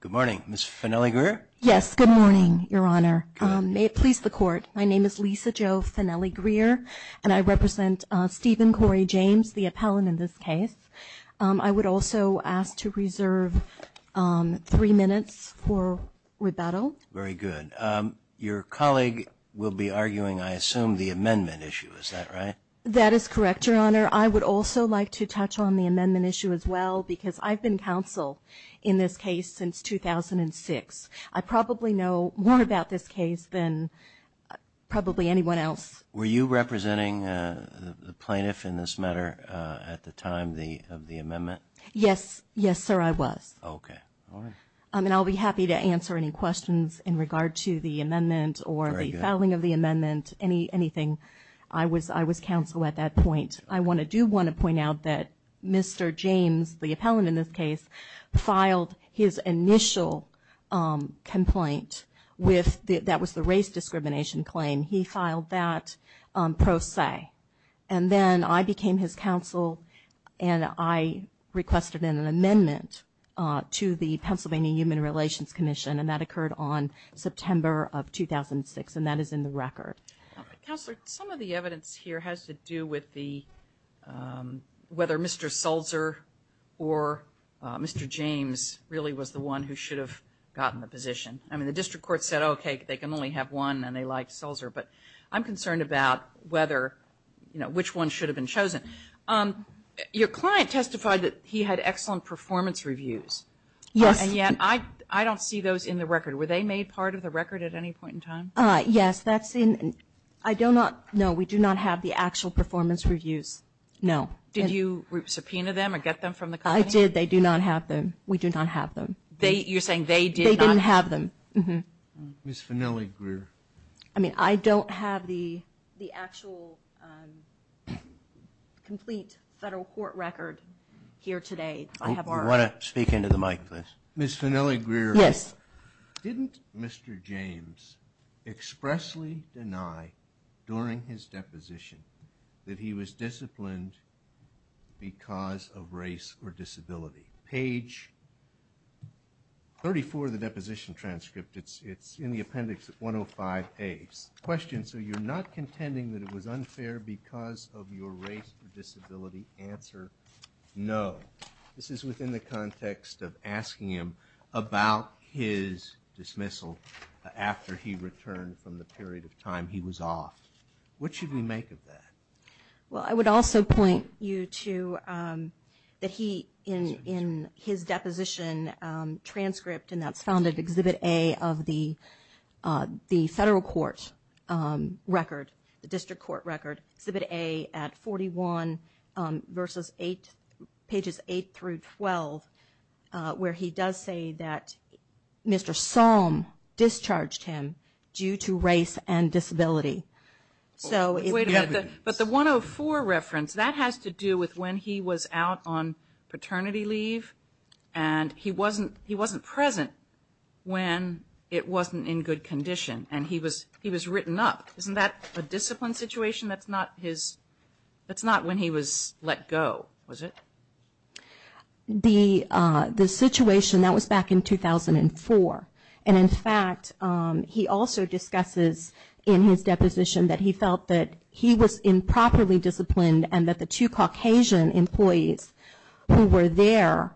Good morning, Ms. Fennelly-Greer. Yes, good morning, Your Honor. May it please the Court, my name is Lisa Jo Fennelly-Greer, and I represent Stephen Corey James, the appellant in this case. I would also ask to reserve three minutes for rebuttal. Very good. Your colleague will be arguing, I assume, the amendment issue, is that right? That is correct, Your Honor. Your Honor, I would also like to touch on the amendment issue as well, because I've been counsel in this case since 2006. I probably know more about this case than probably anyone else. Were you representing the plaintiff in this matter at the time of the amendment? Yes. Yes, sir, I was. Okay. All right. And I'll be happy to answer any questions in regard to the amendment or the filing of the amendment, anything. I was counsel at that point. I do want to point out that Mr. James, the appellant in this case, filed his initial complaint with the race discrimination claim. He filed that pro se. And then I became his counsel, and I requested an amendment to the Pennsylvania Human Relations Commission, and that occurred on September of 2006, and that is in the record. Counselor, some of the evidence here has to do with whether Mr. Sulzer or Mr. James really was the one who should have gotten the position. I mean, the district court said, okay, they can only have one, and they like Sulzer. But I'm concerned about whether, you know, which one should have been chosen. Your client testified that he had excellent performance reviews. Yes. And yet I don't see those in the record. Were they made part of the record at any point in time? Yes, that's in. I do not know. We do not have the actual performance reviews. No. Did you subpoena them or get them from the company? I did. They do not have them. We do not have them. You're saying they did not have them. They didn't have them. Ms. Fanelli-Greer. I mean, I don't have the actual complete federal court record here today. I have our own. I want to speak into the mic, please. Ms. Fanelli-Greer. Yes. Didn't Mr. James expressly deny during his deposition that he was disciplined because of race or disability? Page 34 of the deposition transcript. It's in the appendix 105A. Question, so you're not contending that it was unfair because of your race or disability? Answer, no. This is within the context of asking him about his dismissal after he returned from the period of time he was off. What should we make of that? Well, I would also point you to that he, in his deposition transcript, and that's found at Exhibit A of the federal court record, the district court record, Exhibit A at 41, pages 8 through 12, where he does say that Mr. Salm discharged him due to race and disability. Wait a minute, but the 104 reference, that has to do with when he was out on paternity leave, and he wasn't present when it wasn't in good condition, and he was written up. Isn't that a disciplined situation? That's not when he was let go, was it? The situation, that was back in 2004, and in fact he also discusses in his deposition that he felt that he was improperly disciplined and that the two Caucasian employees who were there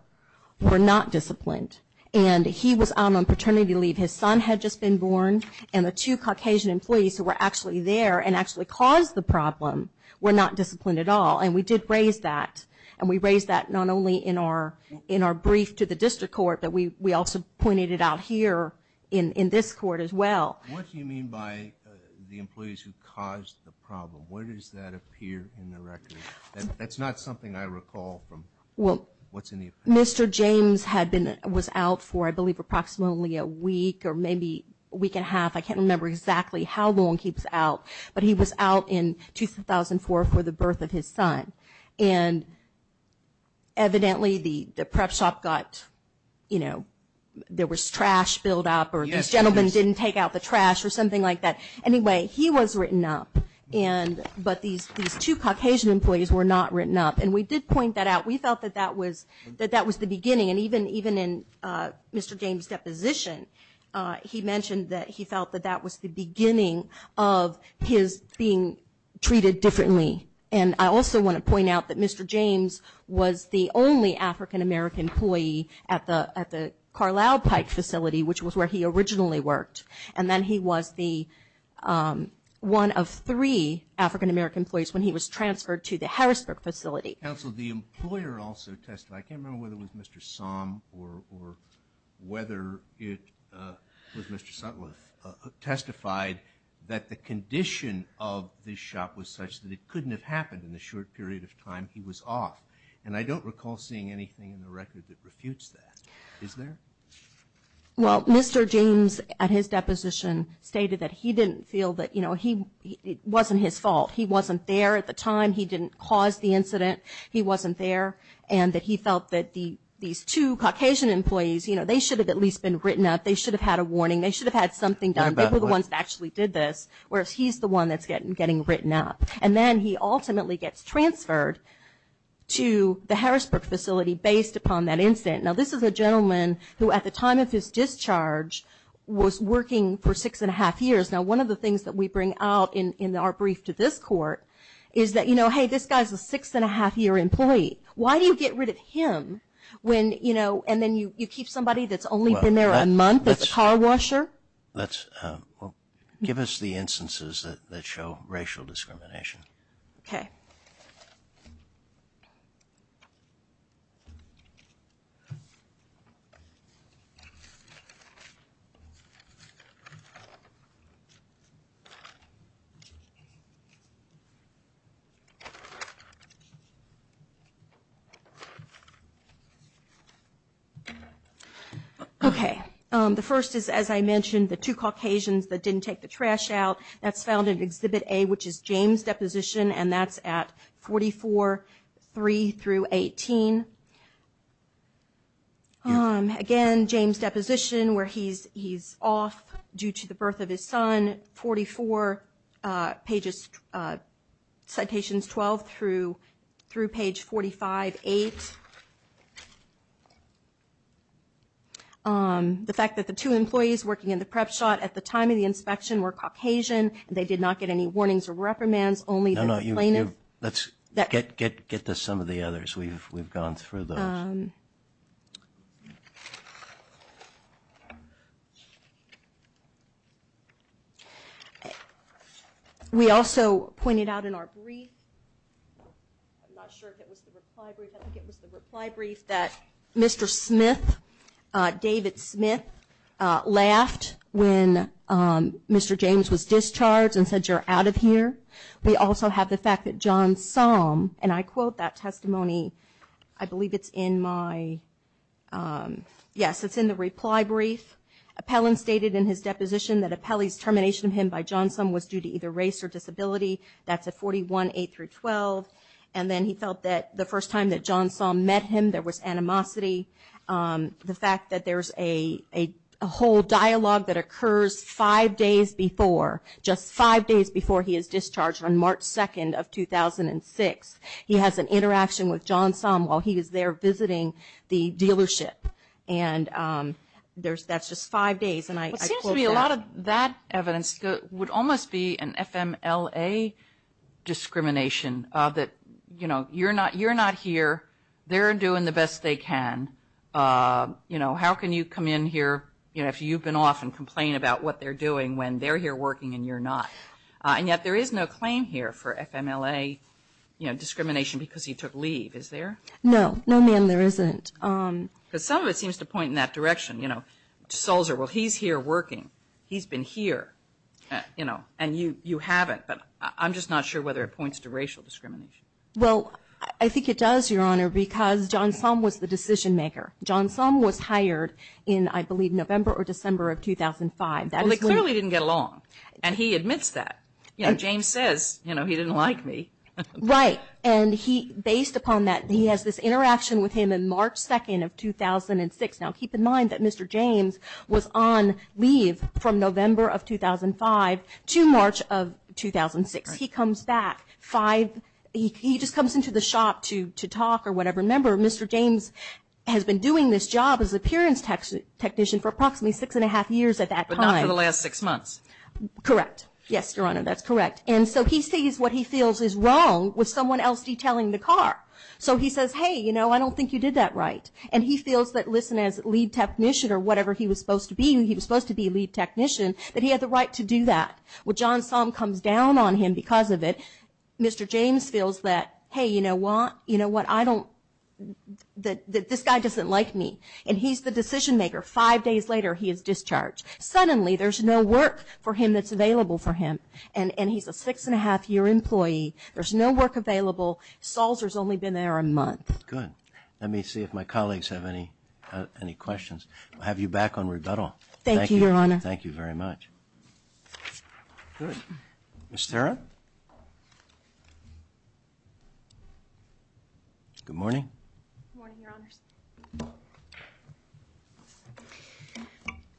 were not disciplined, and he was out on paternity leave. His son had just been born, and the two Caucasian employees who were actually there and actually caused the problem were not disciplined at all. And we did raise that, and we raised that not only in our brief to the district court, but we also pointed it out here in this court as well. What do you mean by the employees who caused the problem? Where does that appear in the record? That's not something I recall from what's in the appendix. Mr. James was out for, I believe, approximately a week or maybe a week and a half. I can't remember exactly how long he was out, but he was out in 2004 for the birth of his son, and evidently the prep shop got, you know, there was trash built up or these gentlemen didn't take out the trash or something like that. Anyway, he was written up, but these two Caucasian employees were not written up, and we did point that out. We felt that that was the beginning, and even in Mr. James' deposition, he mentioned that he felt that that was the beginning of his being treated differently. And I also want to point out that Mr. James was the only African-American employee at the Carlisle Pike facility, which was where he originally worked, and then he was the one of three African-American employees when he was transferred to the Harrisburg facility. Counsel, the employer also testified. I can't remember whether it was Mr. Somm or whether it was Mr. Sutliff, testified that the condition of the shop was such that it couldn't have happened in the short period of time he was off, and I don't recall seeing anything in the record that refutes that. Is there? Well, Mr. James, at his deposition, stated that he didn't feel that, you know, it wasn't his fault. He wasn't there at the time. He didn't cause the incident. He wasn't there, and that he felt that these two Caucasian employees, you know, they should have at least been written up. They should have had a warning. They should have had something done. They were the ones that actually did this, whereas he's the one that's getting written up. And then he ultimately gets transferred to the Harrisburg facility based upon that incident. Now, this is a gentleman who at the time of his discharge was working for six and a half years. Now, one of the things that we bring out in our brief to this court is that, you know, hey, this guy's a six and a half year employee. Why do you get rid of him when, you know, and then you keep somebody that's only been there a month as a car washer? Give us the instances that show racial discrimination. Okay. Okay. The first is, as I mentioned, the two Caucasians that didn't take the trash out. That's found in Exhibit A, which is James' deposition, and that's at 44-3-18. Again, James' deposition where he's off due to the birth of his son, 44 pages, citations 12 through page 45-8. The fact that the two employees working in the prep shot at the time of the inspection were Caucasian and they did not get any warnings or reprimands, only the plaintiff. Let's get to some of the others. We've gone through those. We also pointed out in our brief, I'm not sure if it was the reply brief, I think it was the reply brief, that Mr. Smith, David Smith, laughed when Mr. James was discharged and said, you're out of here. We also have the fact that John Somme, and I quote that testimony, I believe it's in my, yes, it's in the reply brief. Appellant stated in his deposition that Appellee's termination of him by John Somme was due to either race or disability, that's at 41-8-12, and then he felt that the first time that John Somme met him, there was animosity. The fact that there's a whole dialogue that occurs five days before, just five days before he is discharged on March 2nd of 2006. He has an interaction with John Somme while he is there visiting the dealership, and that's just five days, and I quote that. It seems to me a lot of that evidence would almost be an FMLA discrimination, that you're not here, they're doing the best they can. How can you come in here if you've been off and complain about what they're doing when they're here working and you're not? And yet there is no claim here for FMLA discrimination because he took leave, is there? No, no, ma'am, there isn't. Because some of it seems to point in that direction, you know, Solzer, well, he's here working, he's been here, you know, and you haven't, but I'm just not sure whether it points to racial discrimination. Well, I think it does, Your Honor, because John Somme was the decision maker. John Somme was hired in, I believe, November or December of 2005. Well, they clearly didn't get along, and he admits that. You know, James says, you know, he didn't like me. Right, and he, based upon that, he has this interaction with him on March 2nd of 2006. Now, keep in mind that Mr. James was on leave from November of 2005 to March of 2006. He comes back five, he just comes into the shop to talk or whatever. Remember, Mr. James has been doing this job as appearance technician for approximately six and a half years at that time. But not for the last six months. Correct. Yes, Your Honor, that's correct. And so he sees what he feels is wrong with someone else detailing the car. So he says, hey, you know, I don't think you did that right. And he feels that, listen, as lead technician or whatever he was supposed to be, he was supposed to be a lead technician, that he had the right to do that. Well, John Somme comes down on him because of it. Mr. James feels that, hey, you know what, I don't, that this guy doesn't like me. And he's the decision maker. Five days later, he is discharged. Suddenly, there's no work for him that's available for him. And he's a six and a half year employee. There's no work available. Salzer's only been there a month. Good. Let me see if my colleagues have any questions. I'll have you back on rebuttal. Thank you, Your Honor. Thank you very much. Good morning.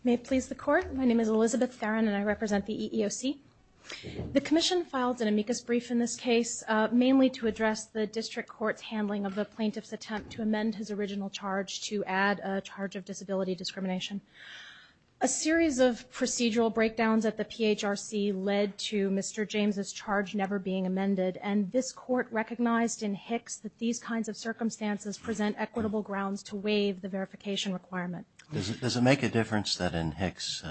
May it please the court. My name is Elizabeth Theron and I represent the EEOC. The commission filed an amicus brief in this case, mainly to address the district court's handling of the plaintiff's attempt to amend his original charge to add a charge of disability discrimination. A series of procedural breakdowns at the PHRC led to Mr. James's charge never being amended. And this court recognized in Hicks that these kinds of circumstances present equitable grounds to waive the verification requirement. Does it make a difference that in Hicks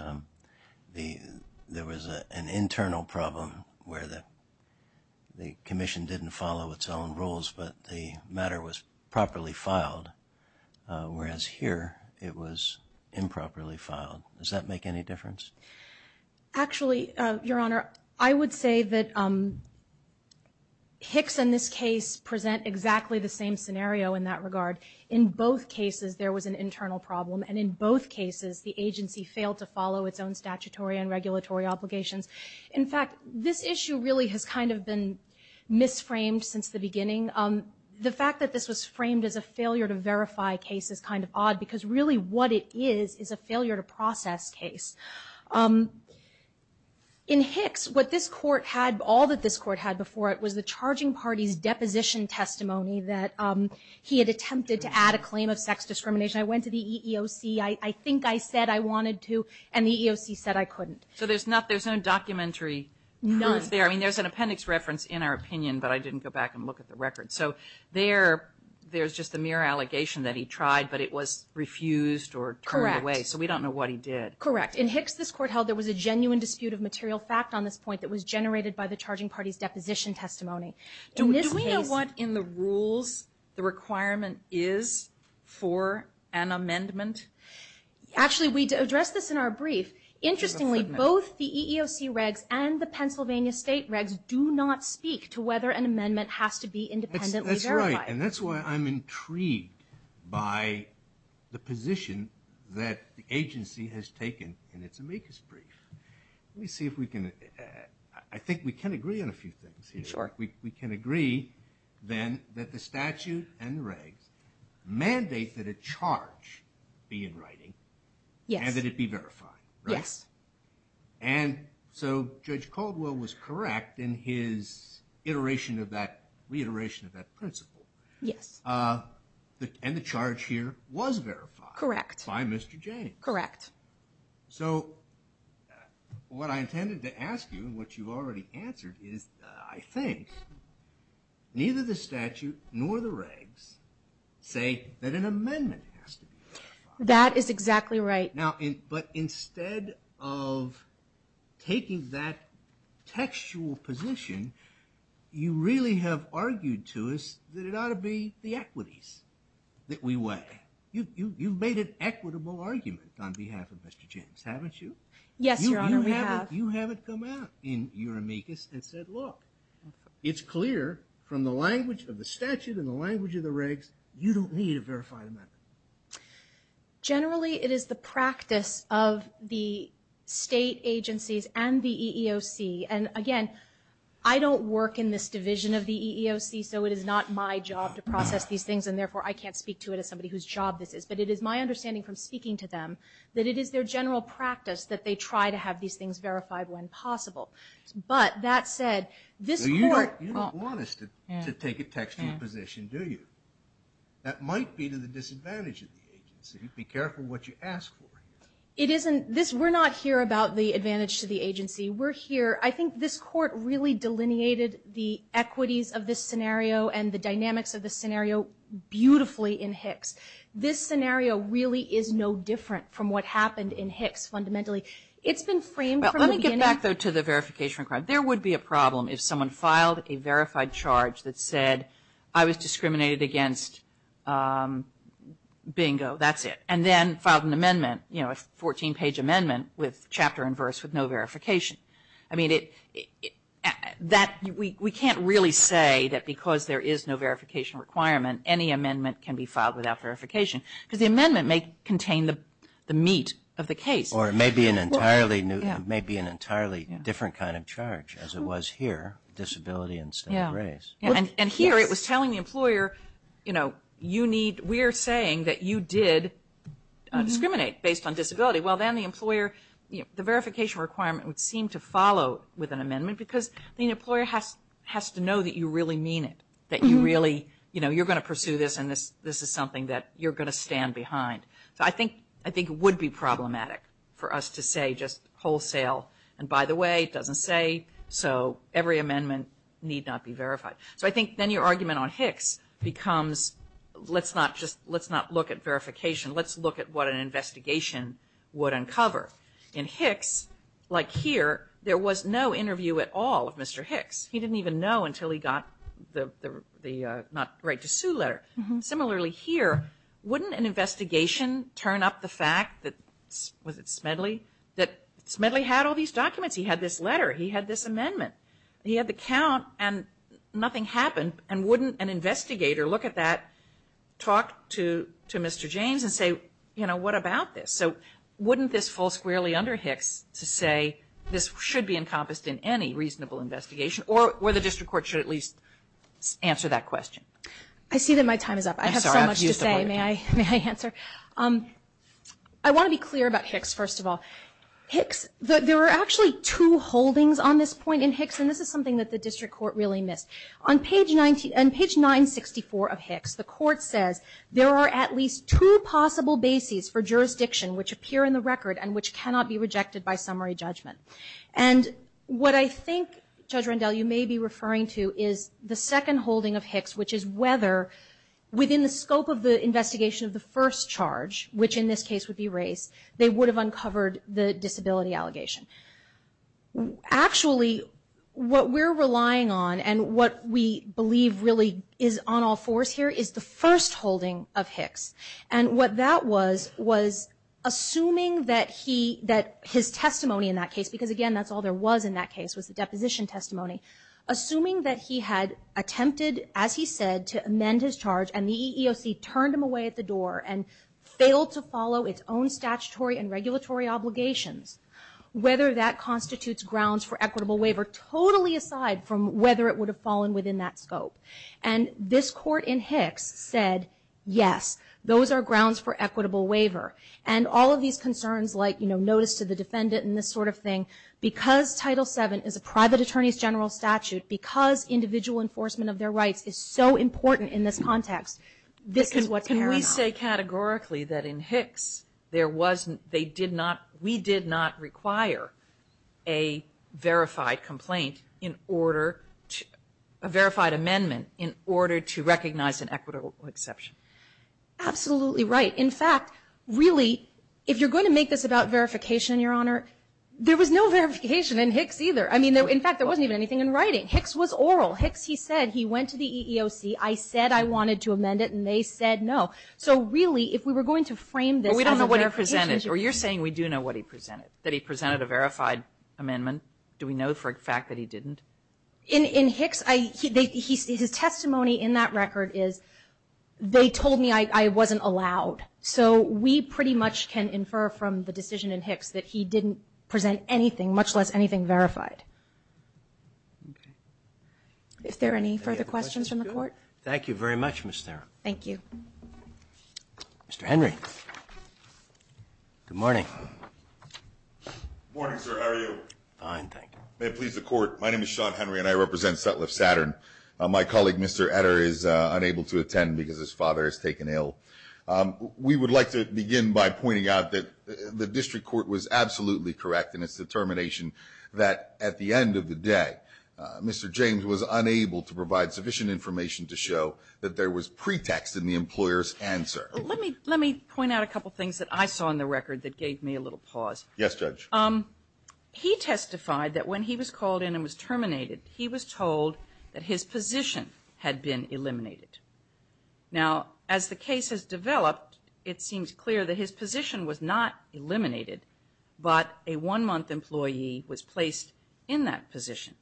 there was an internal problem where the commission didn't follow its own rules, but the matter was improperly filed? Does that make any difference? Actually, Your Honor, I would say that Hicks and this case present exactly the same scenario in that regard. In both cases, there was an internal problem. And in both cases, the agency failed to follow its own statutory and regulatory obligations. In fact, this issue really has kind of been misframed since the beginning. The fact that this was framed as a failure to verify case is kind of odd, because really what it is is a failure to process case. In Hicks, what this court had, all that this court had before it, was the charging party's deposition testimony that he had attempted to add a claim of sex discrimination. I went to the EEOC. I think I said I wanted to, and the EEOC said I couldn't. So there's no documentary proof there. I mean, there's an appendix reference in our opinion, but I didn't go back and look at the record. So there's just the mere allegation that he tried, but it was refused or turned away. So we don't know what he did. Correct. In Hicks, this court held there was a genuine dispute of material fact on this point that was generated by the charging party's deposition testimony. Do we know what in the rules the requirement is for an amendment? Actually, we addressed this in our brief. Interestingly, both the EEOC regs and the Pennsylvania state regs do not speak to whether an amendment has to be independently verified. That's right, and that's why I'm intrigued by the position that the agency has taken in its amicus brief. Let me see if we can, I think we can agree on a few things here. Sure. We can agree then that the statute and the regs mandate that a charge be in writing and that it be verified. Yes. And so Judge Caldwell was correct in his iteration of that, reiteration of that principle. Yes. And the charge here was verified. Correct. By Mr. James. Correct. So what I intended to ask you and what you've already answered is I think neither the statute nor the regs say that an amendment has to be verified. That is exactly right. Now, but instead of taking that textual position, you really have argued to us that it ought to be the equities that we weigh. You've made an equitable argument on behalf of Mr. James, haven't you? Yes, Your Honor, we have. You haven't come out in your amicus and said, look, it's clear from the language of the statute and the language of the regs, you don't need a verified amendment. Generally, it is the practice of the state agencies and the EEOC, and again, I don't work in this division of the EEOC, so it is not my job to that it is their general practice that they try to have these things verified when possible. But that said, this court... You don't want us to take a textual position, do you? That might be to the disadvantage of the agency. Be careful what you ask for. It isn't. We're not here about the advantage to the agency. We're here... I think this court really delineated the equities of this scenario and the dynamics of this scenario beautifully in Hicks. This scenario really is no different from what happened in Hicks, fundamentally. It's been framed from the beginning... Well, let me get back, though, to the verification requirement. There would be a problem if someone filed a verified charge that said, I was discriminated against, bingo, that's it, and then filed an amendment, you know, a 14-page amendment with chapter and verse with no verification. I mean, we can't really say that because there is no verification requirement, any amendment can be filed without verification, because the amendment may contain the meat of the case. Or it may be an entirely different kind of charge, as it was here, disability instead of race. And here it was telling the employer, you know, we're saying that you did discriminate based on disability. Well, then the employer... The verification requirement would seem to follow with an amendment because the employer has to know that you really mean it, that you really, you know, you're going to pursue this and this is something that you're going to stand behind. So I think it would be problematic for us to say just wholesale, and by the way, it doesn't say so every amendment need not be verified. So I think then your argument on Hicks becomes, let's not just, let's not look at verification, let's look at what an investigation would uncover. In Hicks, like here, there was no interview at all of Mr. Hicks. He didn't even know until he got the not right to sue letter. Similarly here, wouldn't an investigation turn up the fact that, was it Smedley, that Smedley had all these documents, he had this letter, he had this investigator look at that, talk to Mr. James and say, you know, what about this? So wouldn't this fall squarely under Hicks to say this should be encompassed in any reasonable investigation or the district court should at least answer that question? I see that my time is up. I have so much to say. May I answer? I want to be clear about Hicks first of all. Hicks, there were actually two holdings on this point in Hicks, and this is something that the district court really missed. On page 964 of Hicks, the court says, there are at least two possible bases for jurisdiction which appear in the record and which cannot be rejected by summary judgment. And what I think, Judge Rendell, you may be referring to is the second holding of Hicks, which is whether within the scope of the investigation of the first charge, which in this case would be race, they would have uncovered the disability allegation. Actually, what we're relying on and what we believe really is on all fours here is the first holding of Hicks. And what that was, was assuming that his testimony in that case, because again, that's all there was in that case, was the deposition testimony. Assuming that he had attempted, as he said, to amend his charge and the EEOC turned him away at the door and failed to follow its own statutory and regulatory obligations, whether that constitutes grounds for equitable waiver totally aside from whether it would have fallen within that scope. And this court in Hicks said, yes, those are grounds for equitable waiver. And all of these concerns like notice to the defendant and this sort of thing, because Title VII is a private attorney's general statute, because individual enforcement of their rights is so important in this context, this is what's going on. Can we say categorically that in Hicks there wasn't, they did not, we did not require a verified complaint in order to, a verified amendment in order to recognize an equitable exception? Absolutely right. In fact, really, if you're going to make this about verification, Your Honor, there was no verification in Hicks either. I mean, in fact, there wasn't even anything in writing. Hicks was oral. Hicks, he said, he went to the EEOC, I said I wanted to amend it, and they said no. So really, if we were going to frame this as a verification issue. But we don't know what he presented. Or you're saying we do know what he presented, that he presented a verified amendment? Do we know for a fact that he didn't? In Hicks, his testimony in that record is, they told me I wasn't allowed. So we pretty much can infer from the decision in Hicks that he didn't present anything, much less anything verified. If there are any further questions from the Court? Thank you very much, Ms. Theron. Thank you. Mr. Henry. Good morning. Good morning, sir. How are you? Fine, thank you. May it please the Court. My name is Sean Henry, and I represent Sutliff Saturn. My colleague, Mr. Etter, is unable to attend because his father is taken ill. We would like to begin by pointing out that the District Court was absolutely correct in its determination that at the end of the day, Mr. James was unable to provide sufficient information to show that there was pretext in the employer's answer. Let me point out a couple things that I saw in the record that gave me a little pause. Yes, Judge. He testified that when he was called in and was terminated, he was told that his position had been eliminated. Now, as the case has developed, it seems clear that his position was not eliminated, but a one-month employee was placed in that position.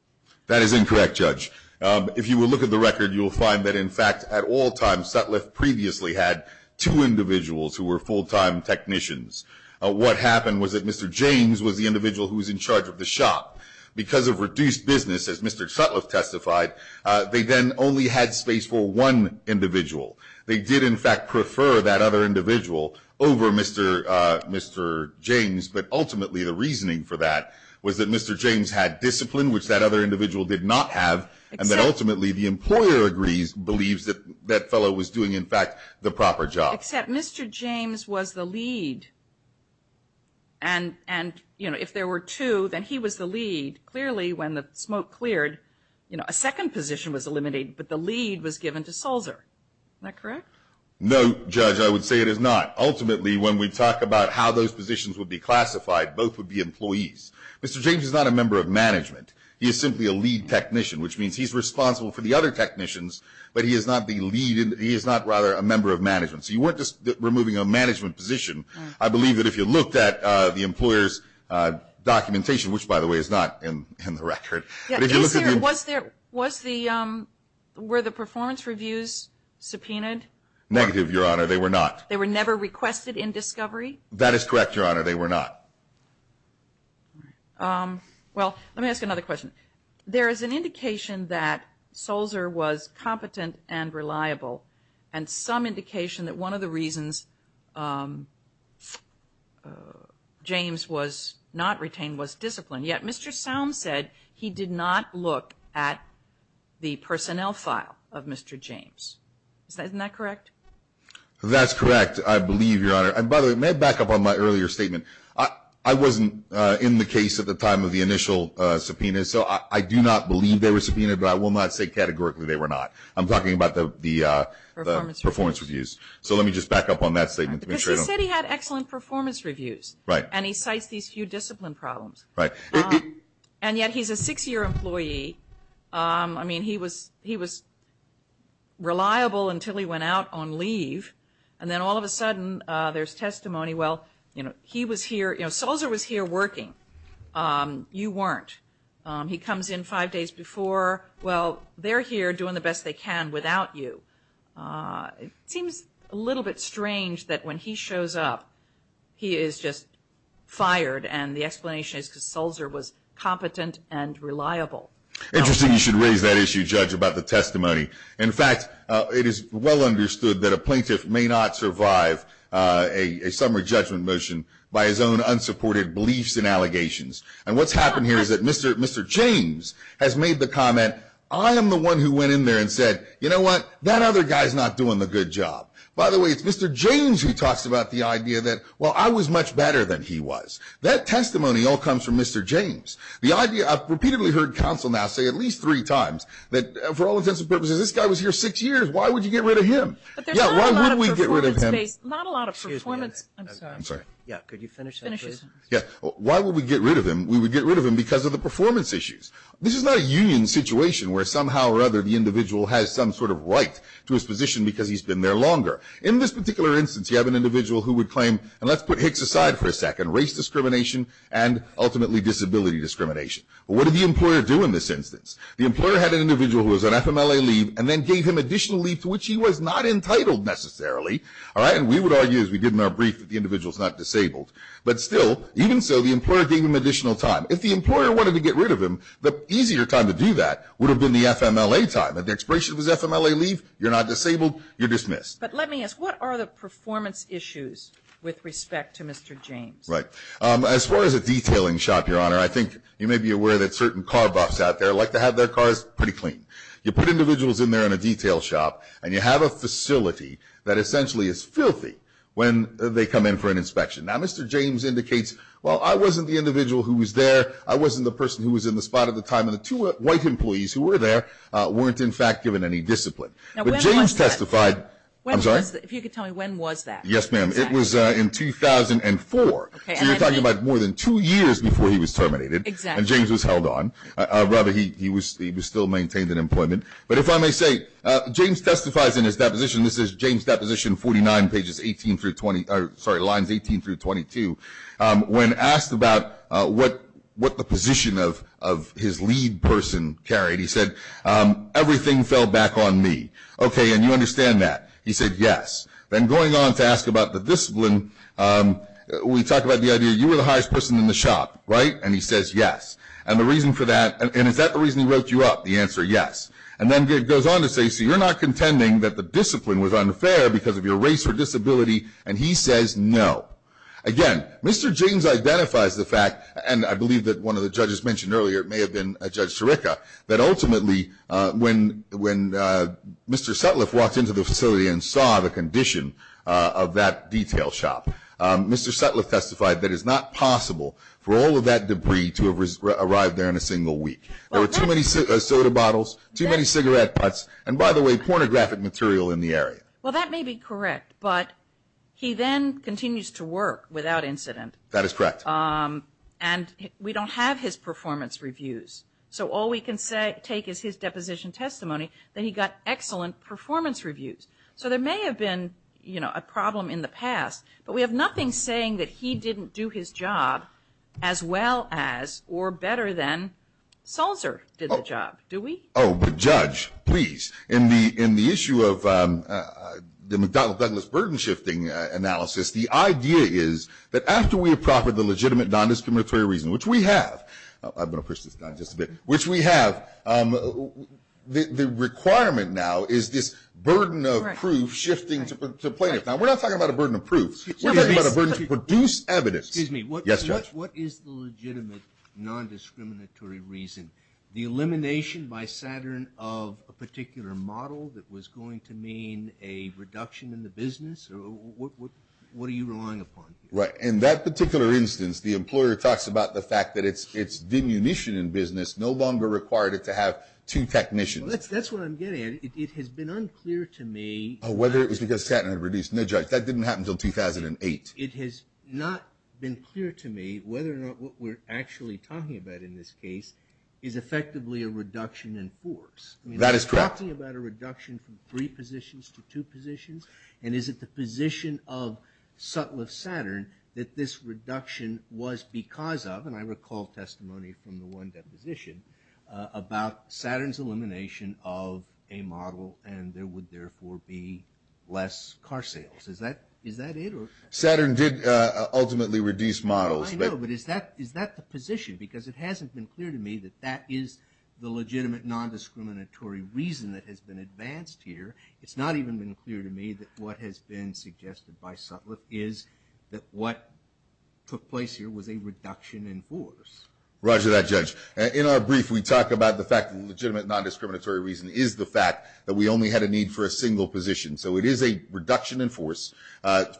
That is incorrect, Judge. If you will look at the record, you will find that, in fact, at all times Sutliff previously had two individuals who were full-time technicians. What happened was that Mr. James was the individual who was in charge of the shop. Because of reduced business, as Mr. Sutliff testified, they then only had space for one individual. They did, in fact, prefer that other individual over Mr. James, but ultimately the reasoning for that was that Mr. James had discipline, which that other individual did not have, and that ultimately the employer believes that that fellow was doing, in fact, the proper job. Except Mr. James was the lead, and if there were two, then he was the lead. Clearly, when the smoke cleared, a second position was eliminated, but the lead was given to Sulzer. Is that correct? No, Judge, I would say it is not. Ultimately, when we talk about how those positions would be classified, both would be employees. Mr. James is not a member of management. He is simply a lead technician, which means he is responsible for the other technicians, but he is not the lead. He is not, rather, a member of management. So you weren't just removing a management position. I believe that if you looked at the employer's documentation, which, by the way, is not in the record, but if you look at the... Were the performance reviews subpoenaed? Negative, Your Honor. They were not. They were never requested in discovery? That is correct, Your Honor. They were not. Well, let me ask you another question. There is an indication that Sulzer was competent and reliable, and some indication that one of the reasons James was not retained was discipline, yet Mr. Sound said he did not look at the personnel file of Mr. James. Isn't that correct? That's correct, I believe, Your Honor. And by the way, may I back up on my earlier statement? I wasn't in the case at the time of the initial subpoena, so I do not believe they were subpoenaed, but I will not say categorically they were not. I'm talking about the performance reviews. So let me just back up on that statement to make sure I don't... Because he said he had excellent performance reviews. Right. And he cites these few discipline problems. Right. And yet he's a six-year employee. I mean, he was reliable until he went out on leave, and then all of a sudden there's testimony, well, he was here, Sulzer was here working. You weren't. He comes in five days before. Well, they're here doing the best they can without you. It seems a little bit strange that when he shows up, he is just not doing his job. Interesting you should raise that issue, Judge, about the testimony. In fact, it is well understood that a plaintiff may not survive a summary judgment motion by his own unsupported beliefs and allegations. And what's happened here is that Mr. James has made the comment, I am the one who went in there and said, you know what, that other guy's not doing the good job. By the way, it's Mr. James who talks about the idea that, well, I was much better than he was. That testimony all comes from Mr. James. The idea, I've repeatedly heard counsel now say at least three times that for all intents and purposes, this guy was here six years. Why would you get rid of him? Why would we get rid of him? Why would we get rid of him? We would get rid of him because of the performance issues. This is not a union situation where somehow or other the individual has some sort of right to his position because he's been there longer. In this particular instance, you have an individual who would claim, and let's put Hicks aside for a second, race discrimination and ultimately disability discrimination. Well, what did the employer do in this instance? The employer had an individual who was on FMLA leave and then gave him additional leave to which he was not entitled necessarily. All right? And we would argue, as we did in our brief, that the individual's not disabled. But still, even so, the employer gave him additional time. If the employer wanted to get rid of him, the easier time to do that Let me ask, what are the performance issues with respect to Mr. James? As far as a detailing shop, Your Honor, I think you may be aware that certain car buffs out there like to have their cars pretty clean. You put individuals in there in a detail shop and you have a facility that essentially is filthy when they come in for an inspection. Now, Mr. James indicates, well, I wasn't the individual who was there, I wasn't the person who was in the spot at the time, and the two white employees who were there weren't in fact given any discipline. But James testified If you could tell me, when was that? Yes, ma'am. It was in 2004. So you're talking about more than two years before he was terminated and James was held on. Rather, he was still maintained in employment. But if I may say, James testifies in his deposition, this is James Deposition 49, pages 18 through 20, sorry, lines 18 through 22, when asked about what the position of his lead person carried. He said, everything fell back on me. Okay, and you understand that. He said, yes. Then going on to ask about the discipline, we talk about the idea you were the highest person in the shop, right? And he says, yes. And the reason for that, and is that the reason he wrote you up, the answer, yes. And then it goes on to say, so you're not contending that the discipline was unfair because of your race or disability? And he says, no. Again, Mr. James identifies the fact, and I believe that one of the judges mentioned earlier, it may have been Judge Chirica, that ultimately when Mr. Sutliff walked into the facility and saw the condition of that detail shop, Mr. Sutliff testified that it's not possible for all of that debris to have arrived there in a single week. There were too many soda bottles, too many cigarette butts, and by the way, pornographic material in the area. Well, that may be correct, but he then continues to work without incident. That is correct. And we don't have his performance reviews. So all we can take is his deposition testimony, then he got excellent performance reviews. So there may have been a problem in the past, but we have nothing saying that he didn't do his job as well as or better than Salzer did the job, do we? Oh, but Judge, please, in the issue of the McDonnell-Douglas burden shifting analysis, the idea is that after we have proffered the legitimate nondiscriminatory reason, which we have, I'm going to push this down just a bit, which we have, the requirement now is this burden of proof shifting to plaintiff. Now, we're not talking about a burden of proof. We're talking about a burden to produce evidence. Excuse me. Yes, Judge. What is the legitimate nondiscriminatory reason? The elimination by Saturn of a particular model that was going to mean a reduction in the business? What are you relying upon? Right. In that particular instance, the employer talks about the fact that it's demunition in business no longer required it to have two technicians. That's what I'm getting at. It has been unclear to me. Whether it was because Saturn had reduced. No, Judge, that didn't happen until 2008. It has not been clear to me whether or not what we're actually talking about in this case is effectively a reduction in force. That is correct. Are we talking about a reduction from three positions to two positions? And is it the position of Sutliff-Saturn that this reduction was because of, and I recall testimony from the one deposition, about Saturn's elimination of a model and there would therefore be less car sales. Is that it? Saturn did ultimately reduce models. I know, but is that the position? Because it hasn't been clear to me that that is the legitimate nondiscriminatory reason that has been advanced here. It's not even been clear to me that what has been suggested by Sutliff is that what took place here was a reduction in force. Roger that, Judge. In our brief, we talk about the fact that the legitimate nondiscriminatory reason is the fact that we only had a need for a single position. So it is a reduction in force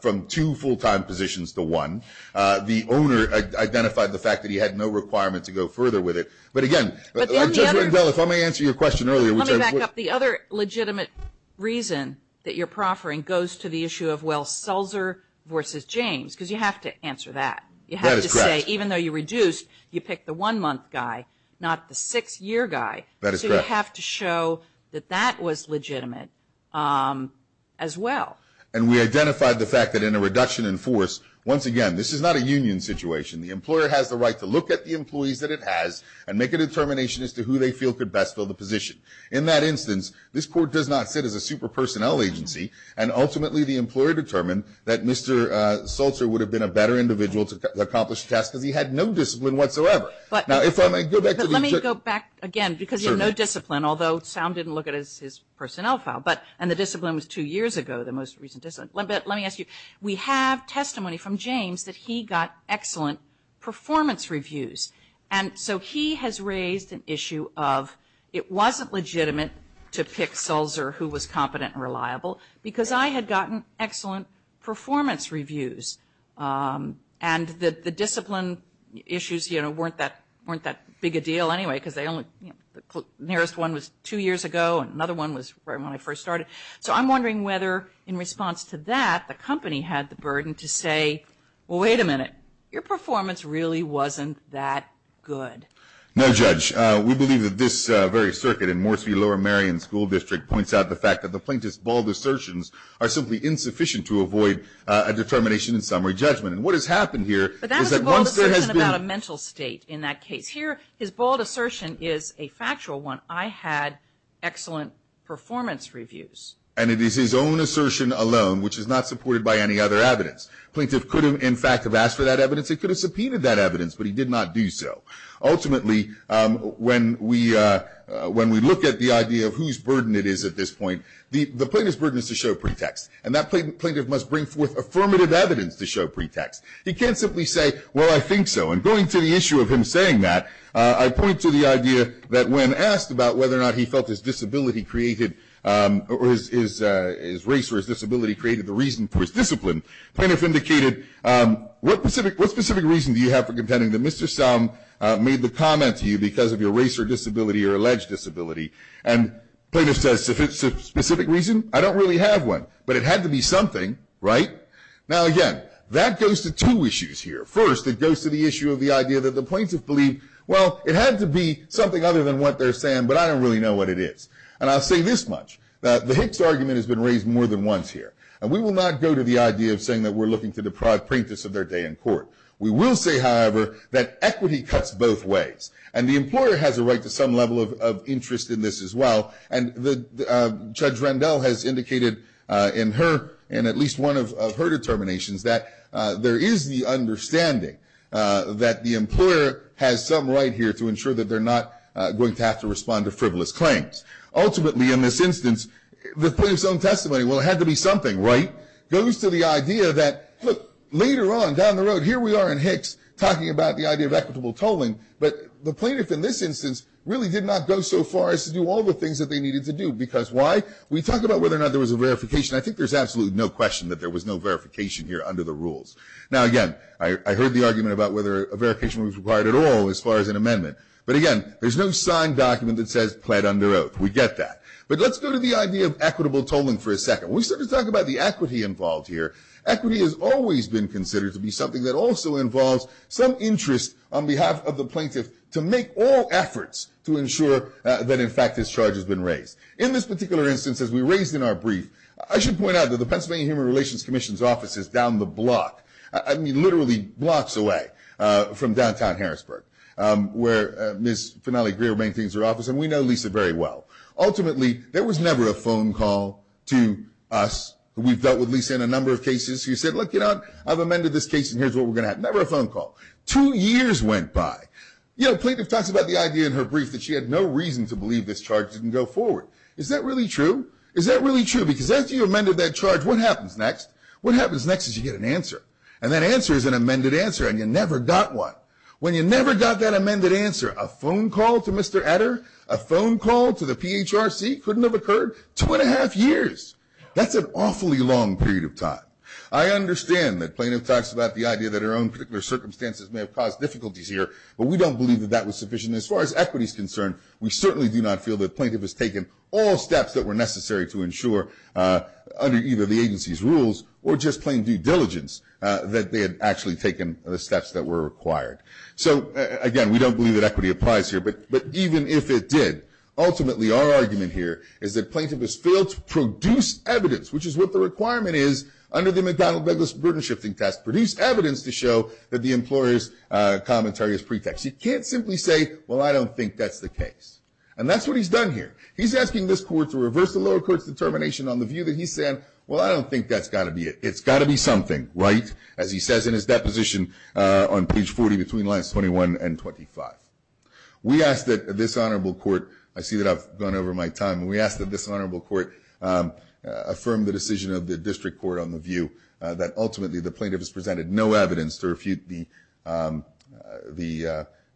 from two full-time positions to one. The owner identified the fact that he had no requirement to go further with it. But again, Judge Rendell, if I may answer your question earlier. Let me back up. The other legitimate reason that you're proffering goes to the issue of, well, Sulzer versus James, because you have to answer that. You have to say, even though you reduced, you picked the one-month guy, not the six-year guy. That is correct. You have to show that that was legitimate as well. And we identified the fact that in a reduction in force, once again, this is not a union situation. The employer has the right to look at the employees that it has and make a determination as to who they feel could best fill the position. In that instance, this Court does not sit as a super personnel agency, and ultimately the employer determined that Mr. Sulzer would have been a better individual to accomplish the task because he had no discipline whatsoever. Let me go back again because you have no discipline, although Sam didn't look at his personnel file, and the discipline was two years ago, the most recent discipline. Let me ask you, we have testimony from James that he got excellent performance reviews, and so he has raised an issue of it wasn't legitimate to pick Sulzer who was competent and reliable because I had gotten excellent performance reviews. And the discipline issues weren't that big a deal anyway because the nearest one was two years ago, and another one was when I first started. So I'm wondering whether in response to that, the company had the burden to say, well, wait a minute. Your performance really wasn't that good. No, Judge. We believe that this very circuit in Moresby Lower Marion School District points out the fact that the plaintiff's bald assertions are simply insufficient to avoid a determination in summary judgment. And what has happened here is that once there has been – But that was a bald assertion about a mental state in that case. Here his bald assertion is a factual one. I had excellent performance reviews. And it is his own assertion alone, which is not supported by any other evidence. Plaintiff could have, in fact, have asked for that evidence. He could have subpoenaed that evidence, but he did not do so. Ultimately, when we look at the idea of whose burden it is at this point, the plaintiff's burden is to show pretext. And that plaintiff must bring forth affirmative evidence to show pretext. He can't simply say, well, I think so. And going to the issue of him saying that, I point to the idea that when asked about whether or not he felt his disability created – or his race or his disability created the reason for his discipline, plaintiff indicated, what specific reason do you have for contending that Mr. Som made the comment to you because of your race or disability or alleged disability? And plaintiff says, specific reason? I don't really have one. But it had to be something, right? Now, again, that goes to two issues here. First, it goes to the issue of the idea that the plaintiff believed, well, it had to be something other than what they're saying, but I don't really know what it is. And I'll say this much, that the Hicks argument has been raised more than once here. And we will not go to the idea of saying that we're looking to deprive plaintiffs of their day in court. We will say, however, that equity cuts both ways. And the employer has a right to some level of interest in this as well. And Judge Rendell has indicated in her, in at least one of her determinations, that there is the understanding that the employer has some right here to ensure that they're not going to have to respond to frivolous claims. Ultimately, in this instance, the plaintiff's own testimony, well, it had to be something, right? Goes to the idea that, look, later on down the road, here we are in Hicks talking about the idea of equitable tolling, but the plaintiff in this instance really did not go so far as to do all the things that they needed to do. Because why? We talk about whether or not there was a verification. I think there's absolutely no question that there was no verification here under the rules. Now, again, I heard the argument about whether a verification was required at all as far as an amendment. But, again, there's no signed document that says pled under oath. We get that. But let's go to the idea of equitable tolling for a second. When we start to talk about the equity involved here, equity has always been considered to be something that also involves some interest on behalf of the plaintiff to make all efforts to ensure that, in fact, this charge has been raised. In this particular instance, as we raised in our brief, I should point out that the Pennsylvania Human Relations Commission's office is down the block, I mean literally blocks away from downtown Harrisburg, where Ms. Finale Greer maintains her office, and we know Lisa very well. Ultimately, there was never a phone call to us. We've dealt with Lisa in a number of cases. You said, look, you know what, I've amended this case, and here's what we're going to have. Never a phone call. Two years went by. You know, plaintiff talks about the idea in her brief that she had no reason to believe this charge didn't go forward. Is that really true? Is that really true? Because after you amended that charge, what happens next? What happens next is you get an answer, and that answer is an amended answer, and you never got one. When you never got that amended answer, a phone call to Mr. Adder, a phone call to the PHRC couldn't have occurred two and a half years. That's an awfully long period of time. I understand that plaintiff talks about the idea that her own particular circumstances may have caused difficulties here, but we don't believe that that was sufficient. As far as equity is concerned, we certainly do not feel that plaintiff has taken all steps that were necessary to ensure under either the agency's rules or just plain due diligence that they had actually taken the steps that were required. So, again, we don't believe that equity applies here, but even if it did, ultimately our argument here is that plaintiff has failed to produce evidence, which is what the requirement is under the McDonnell-Beggis burden-shifting test, produce evidence to show that the employer's commentary is pretext. You can't simply say, well, I don't think that's the case, and that's what he's done here. He's asking this court to reverse the lower court's determination on the view that he's saying, well, I don't think that's got to be it. It's got to be something, right, as he says in his deposition on page 40 between lines 21 and 25. We ask that this honorable court, I see that I've gone over my time, we ask that this honorable court affirm the decision of the district court on the view that ultimately the plaintiff has presented no evidence to refute the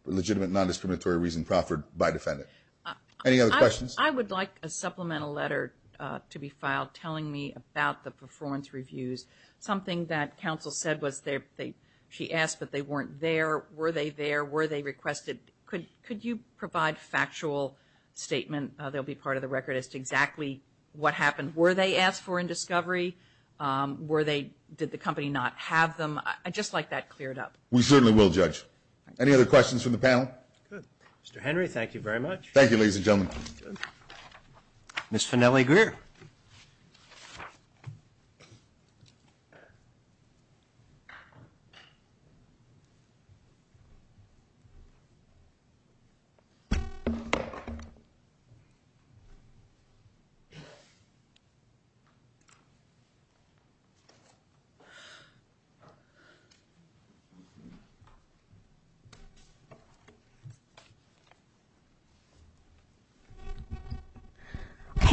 legitimate non-discriminatory reason proffered by defendant. Any other questions? I would like a supplemental letter to be filed telling me about the performance reviews, something that counsel said was she asked, but they weren't there. Were they there? Were they requested? Could you provide factual statement that will be part of the record as to exactly what happened? Were they asked for in discovery? Did the company not have them? I'd just like that cleared up. We certainly will, Judge. Any other questions from the panel? Good. Mr. Henry, thank you very much. Thank you, ladies and gentlemen. Ms. Fennelly Greer.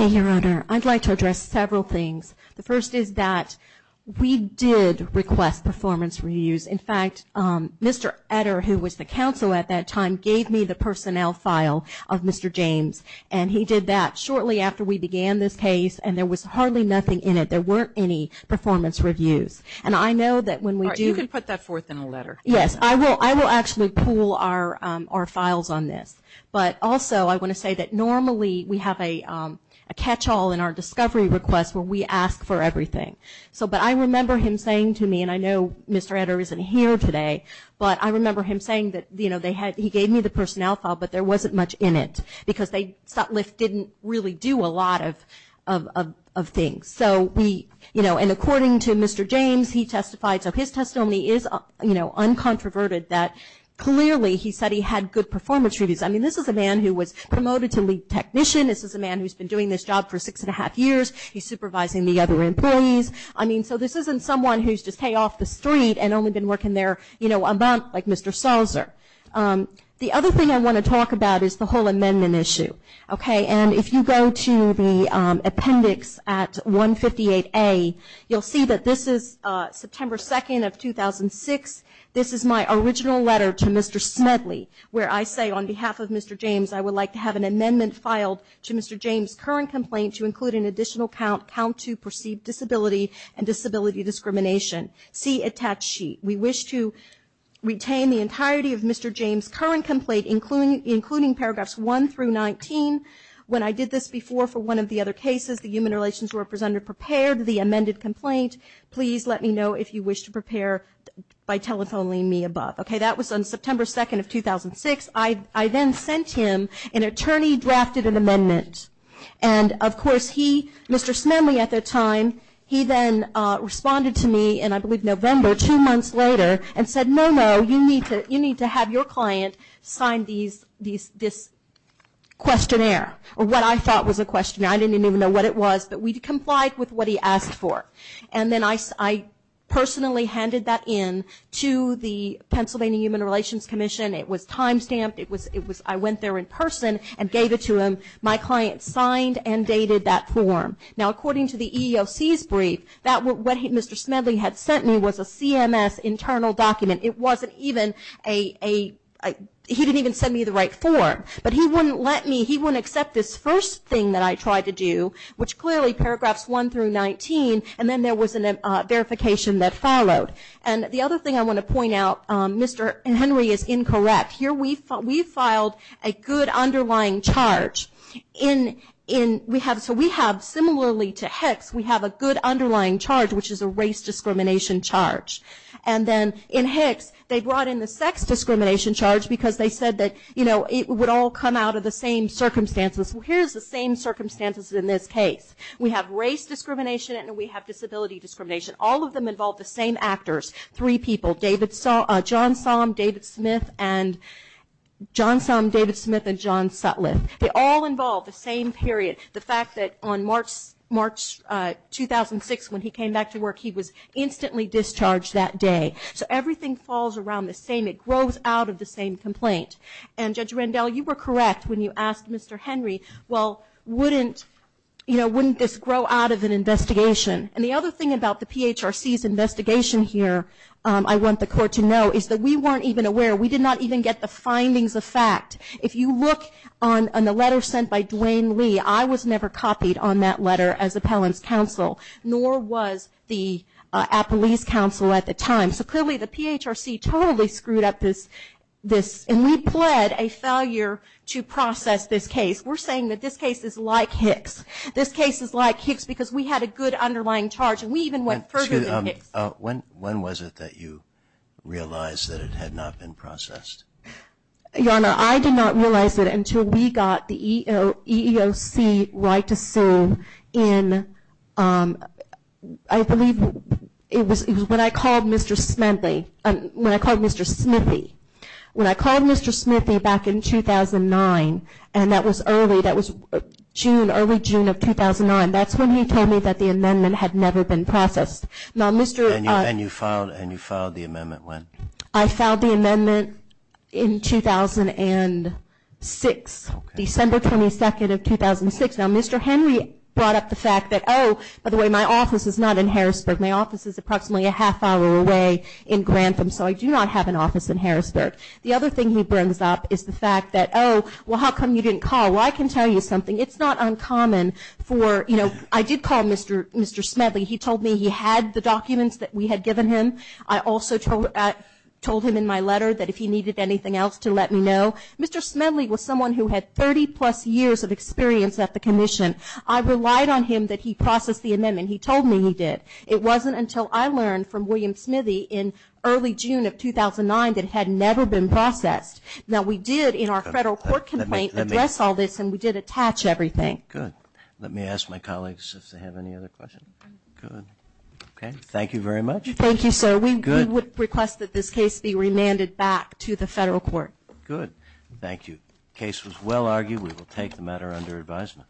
Okay, Your Honor. I'd like to address several things. The first is that we did request performance reviews. In fact, Mr. Etter, who was the counsel at that time, gave me the personnel file of Mr. James, and he did that shortly after we began this case, and there was hardly nothing in it. There weren't any performance reviews. And I know that when we do ---- You can put that forth in a letter. Yes, I will actually pull our files on this. But also I want to say that normally we have a catchall in our discovery request where we ask for everything. But I remember him saying to me, and I know Mr. Etter isn't here today, but I remember him saying that he gave me the personnel file but there wasn't much in it because Sutliff didn't really do a lot of things. And according to Mr. James, he testified, so his testimony is uncontroverted, that clearly he said he had good performance reviews. I mean, this is a man who was promoted to lead technician. This is a man who's been doing this job for six and a half years. He's supervising the other employees. I mean, so this isn't someone who's just, hey, off the street and only been working there, you know, a month like Mr. Salzer. The other thing I want to talk about is the whole amendment issue. Okay. And if you go to the appendix at 158A, you'll see that this is September 2nd of 2006. This is my original letter to Mr. Smedley where I say on behalf of Mr. James, I would like to have an amendment filed to Mr. James' current complaint to include an additional count to perceived disability and disability discrimination. See attached sheet. We wish to retain the entirety of Mr. James' current complaint, including paragraphs 1 through 19. When I did this before for one of the other cases, the human relations representative prepared the amended complaint. Please let me know if you wish to prepare by telephoning me above. Okay. That was on September 2nd of 2006. I then sent him an attorney drafted an amendment. And, of course, he, Mr. Smedley at the time, he then responded to me in, I believe, November, two months later and said, no, no, you need to have your client sign this questionnaire or what I thought was a questionnaire. I didn't even know what it was, but we complied with what he asked for. And then I personally handed that in to the Pennsylvania Human Relations Commission. It was time stamped. I went there in person and gave it to him. My client signed and dated that form. Now, according to the EEOC's brief, what Mr. Smedley had sent me was a CMS internal document. It wasn't even a, he didn't even send me the right form. But he wouldn't let me, he wouldn't accept this first thing that I tried to do, which clearly paragraphs 1 through 19, and then there was a verification that followed. And the other thing I want to point out, Mr. Henry is incorrect. Here we filed a good underlying charge. So we have, similarly to Hicks, we have a good underlying charge, which is a race discrimination charge. And then in Hicks, they brought in the sex discrimination charge because they said that, you know, it would all come out of the same circumstances. Well, here's the same circumstances in this case. We have race discrimination and we have disability discrimination. All of them involve the same actors, three people, John Somm, David Smith, and John Sutliff. They all involve the same period, the fact that on March 2006 when he came back to work, he was instantly discharged that day. So everything falls around the same. It grows out of the same complaint. And, Judge Rendell, you were correct when you asked Mr. Henry, well, wouldn't, you know, wouldn't this grow out of an investigation? And the other thing about the PHRC's investigation here, I want the court to know, is that we weren't even aware. We did not even get the findings of fact. If you look on the letter sent by Duane Lee, I was never copied on that letter as appellant's counsel, nor was the police counsel at the time. So clearly the PHRC totally screwed up this. And we pled a failure to process this case. We're saying that this case is like Hicks. This case is like Hicks because we had a good underlying charge, and we even went further than Hicks. When was it that you realized that it had not been processed? Your Honor, I did not realize it until we got the EEOC right to sue in, I believe, it was when I called Mr. Smithy, when I called Mr. Smithy back in 2009, and that was early, that was June, early June of 2009. That's when he told me that the amendment had never been processed. And you filed the amendment when? I filed the amendment in 2006, December 22nd of 2006. Now, Mr. Henry brought up the fact that, oh, by the way, my office is not in Harrisburg. My office is approximately a half hour away in Grantham, so I do not have an office in Harrisburg. The other thing he brings up is the fact that, oh, well, how come you didn't call? Well, I can tell you something. It's not uncommon for, you know, I did call Mr. Smedley. He told me he had the documents that we had given him. I also told him in my letter that if he needed anything else to let me know. Mr. Smedley was someone who had 30-plus years of experience at the commission. I relied on him that he process the amendment. He told me he did. It wasn't until I learned from William Smithy in early June of 2009 that it had never been processed. Now, we did in our federal court complaint address all this, and we did attach everything. Good. Let me ask my colleagues if they have any other questions. Good. Okay. Thank you very much. Thank you, sir. We would request that this case be remanded back to the federal court. Good. Thank you. The case was well argued. We will take the matter under advisement.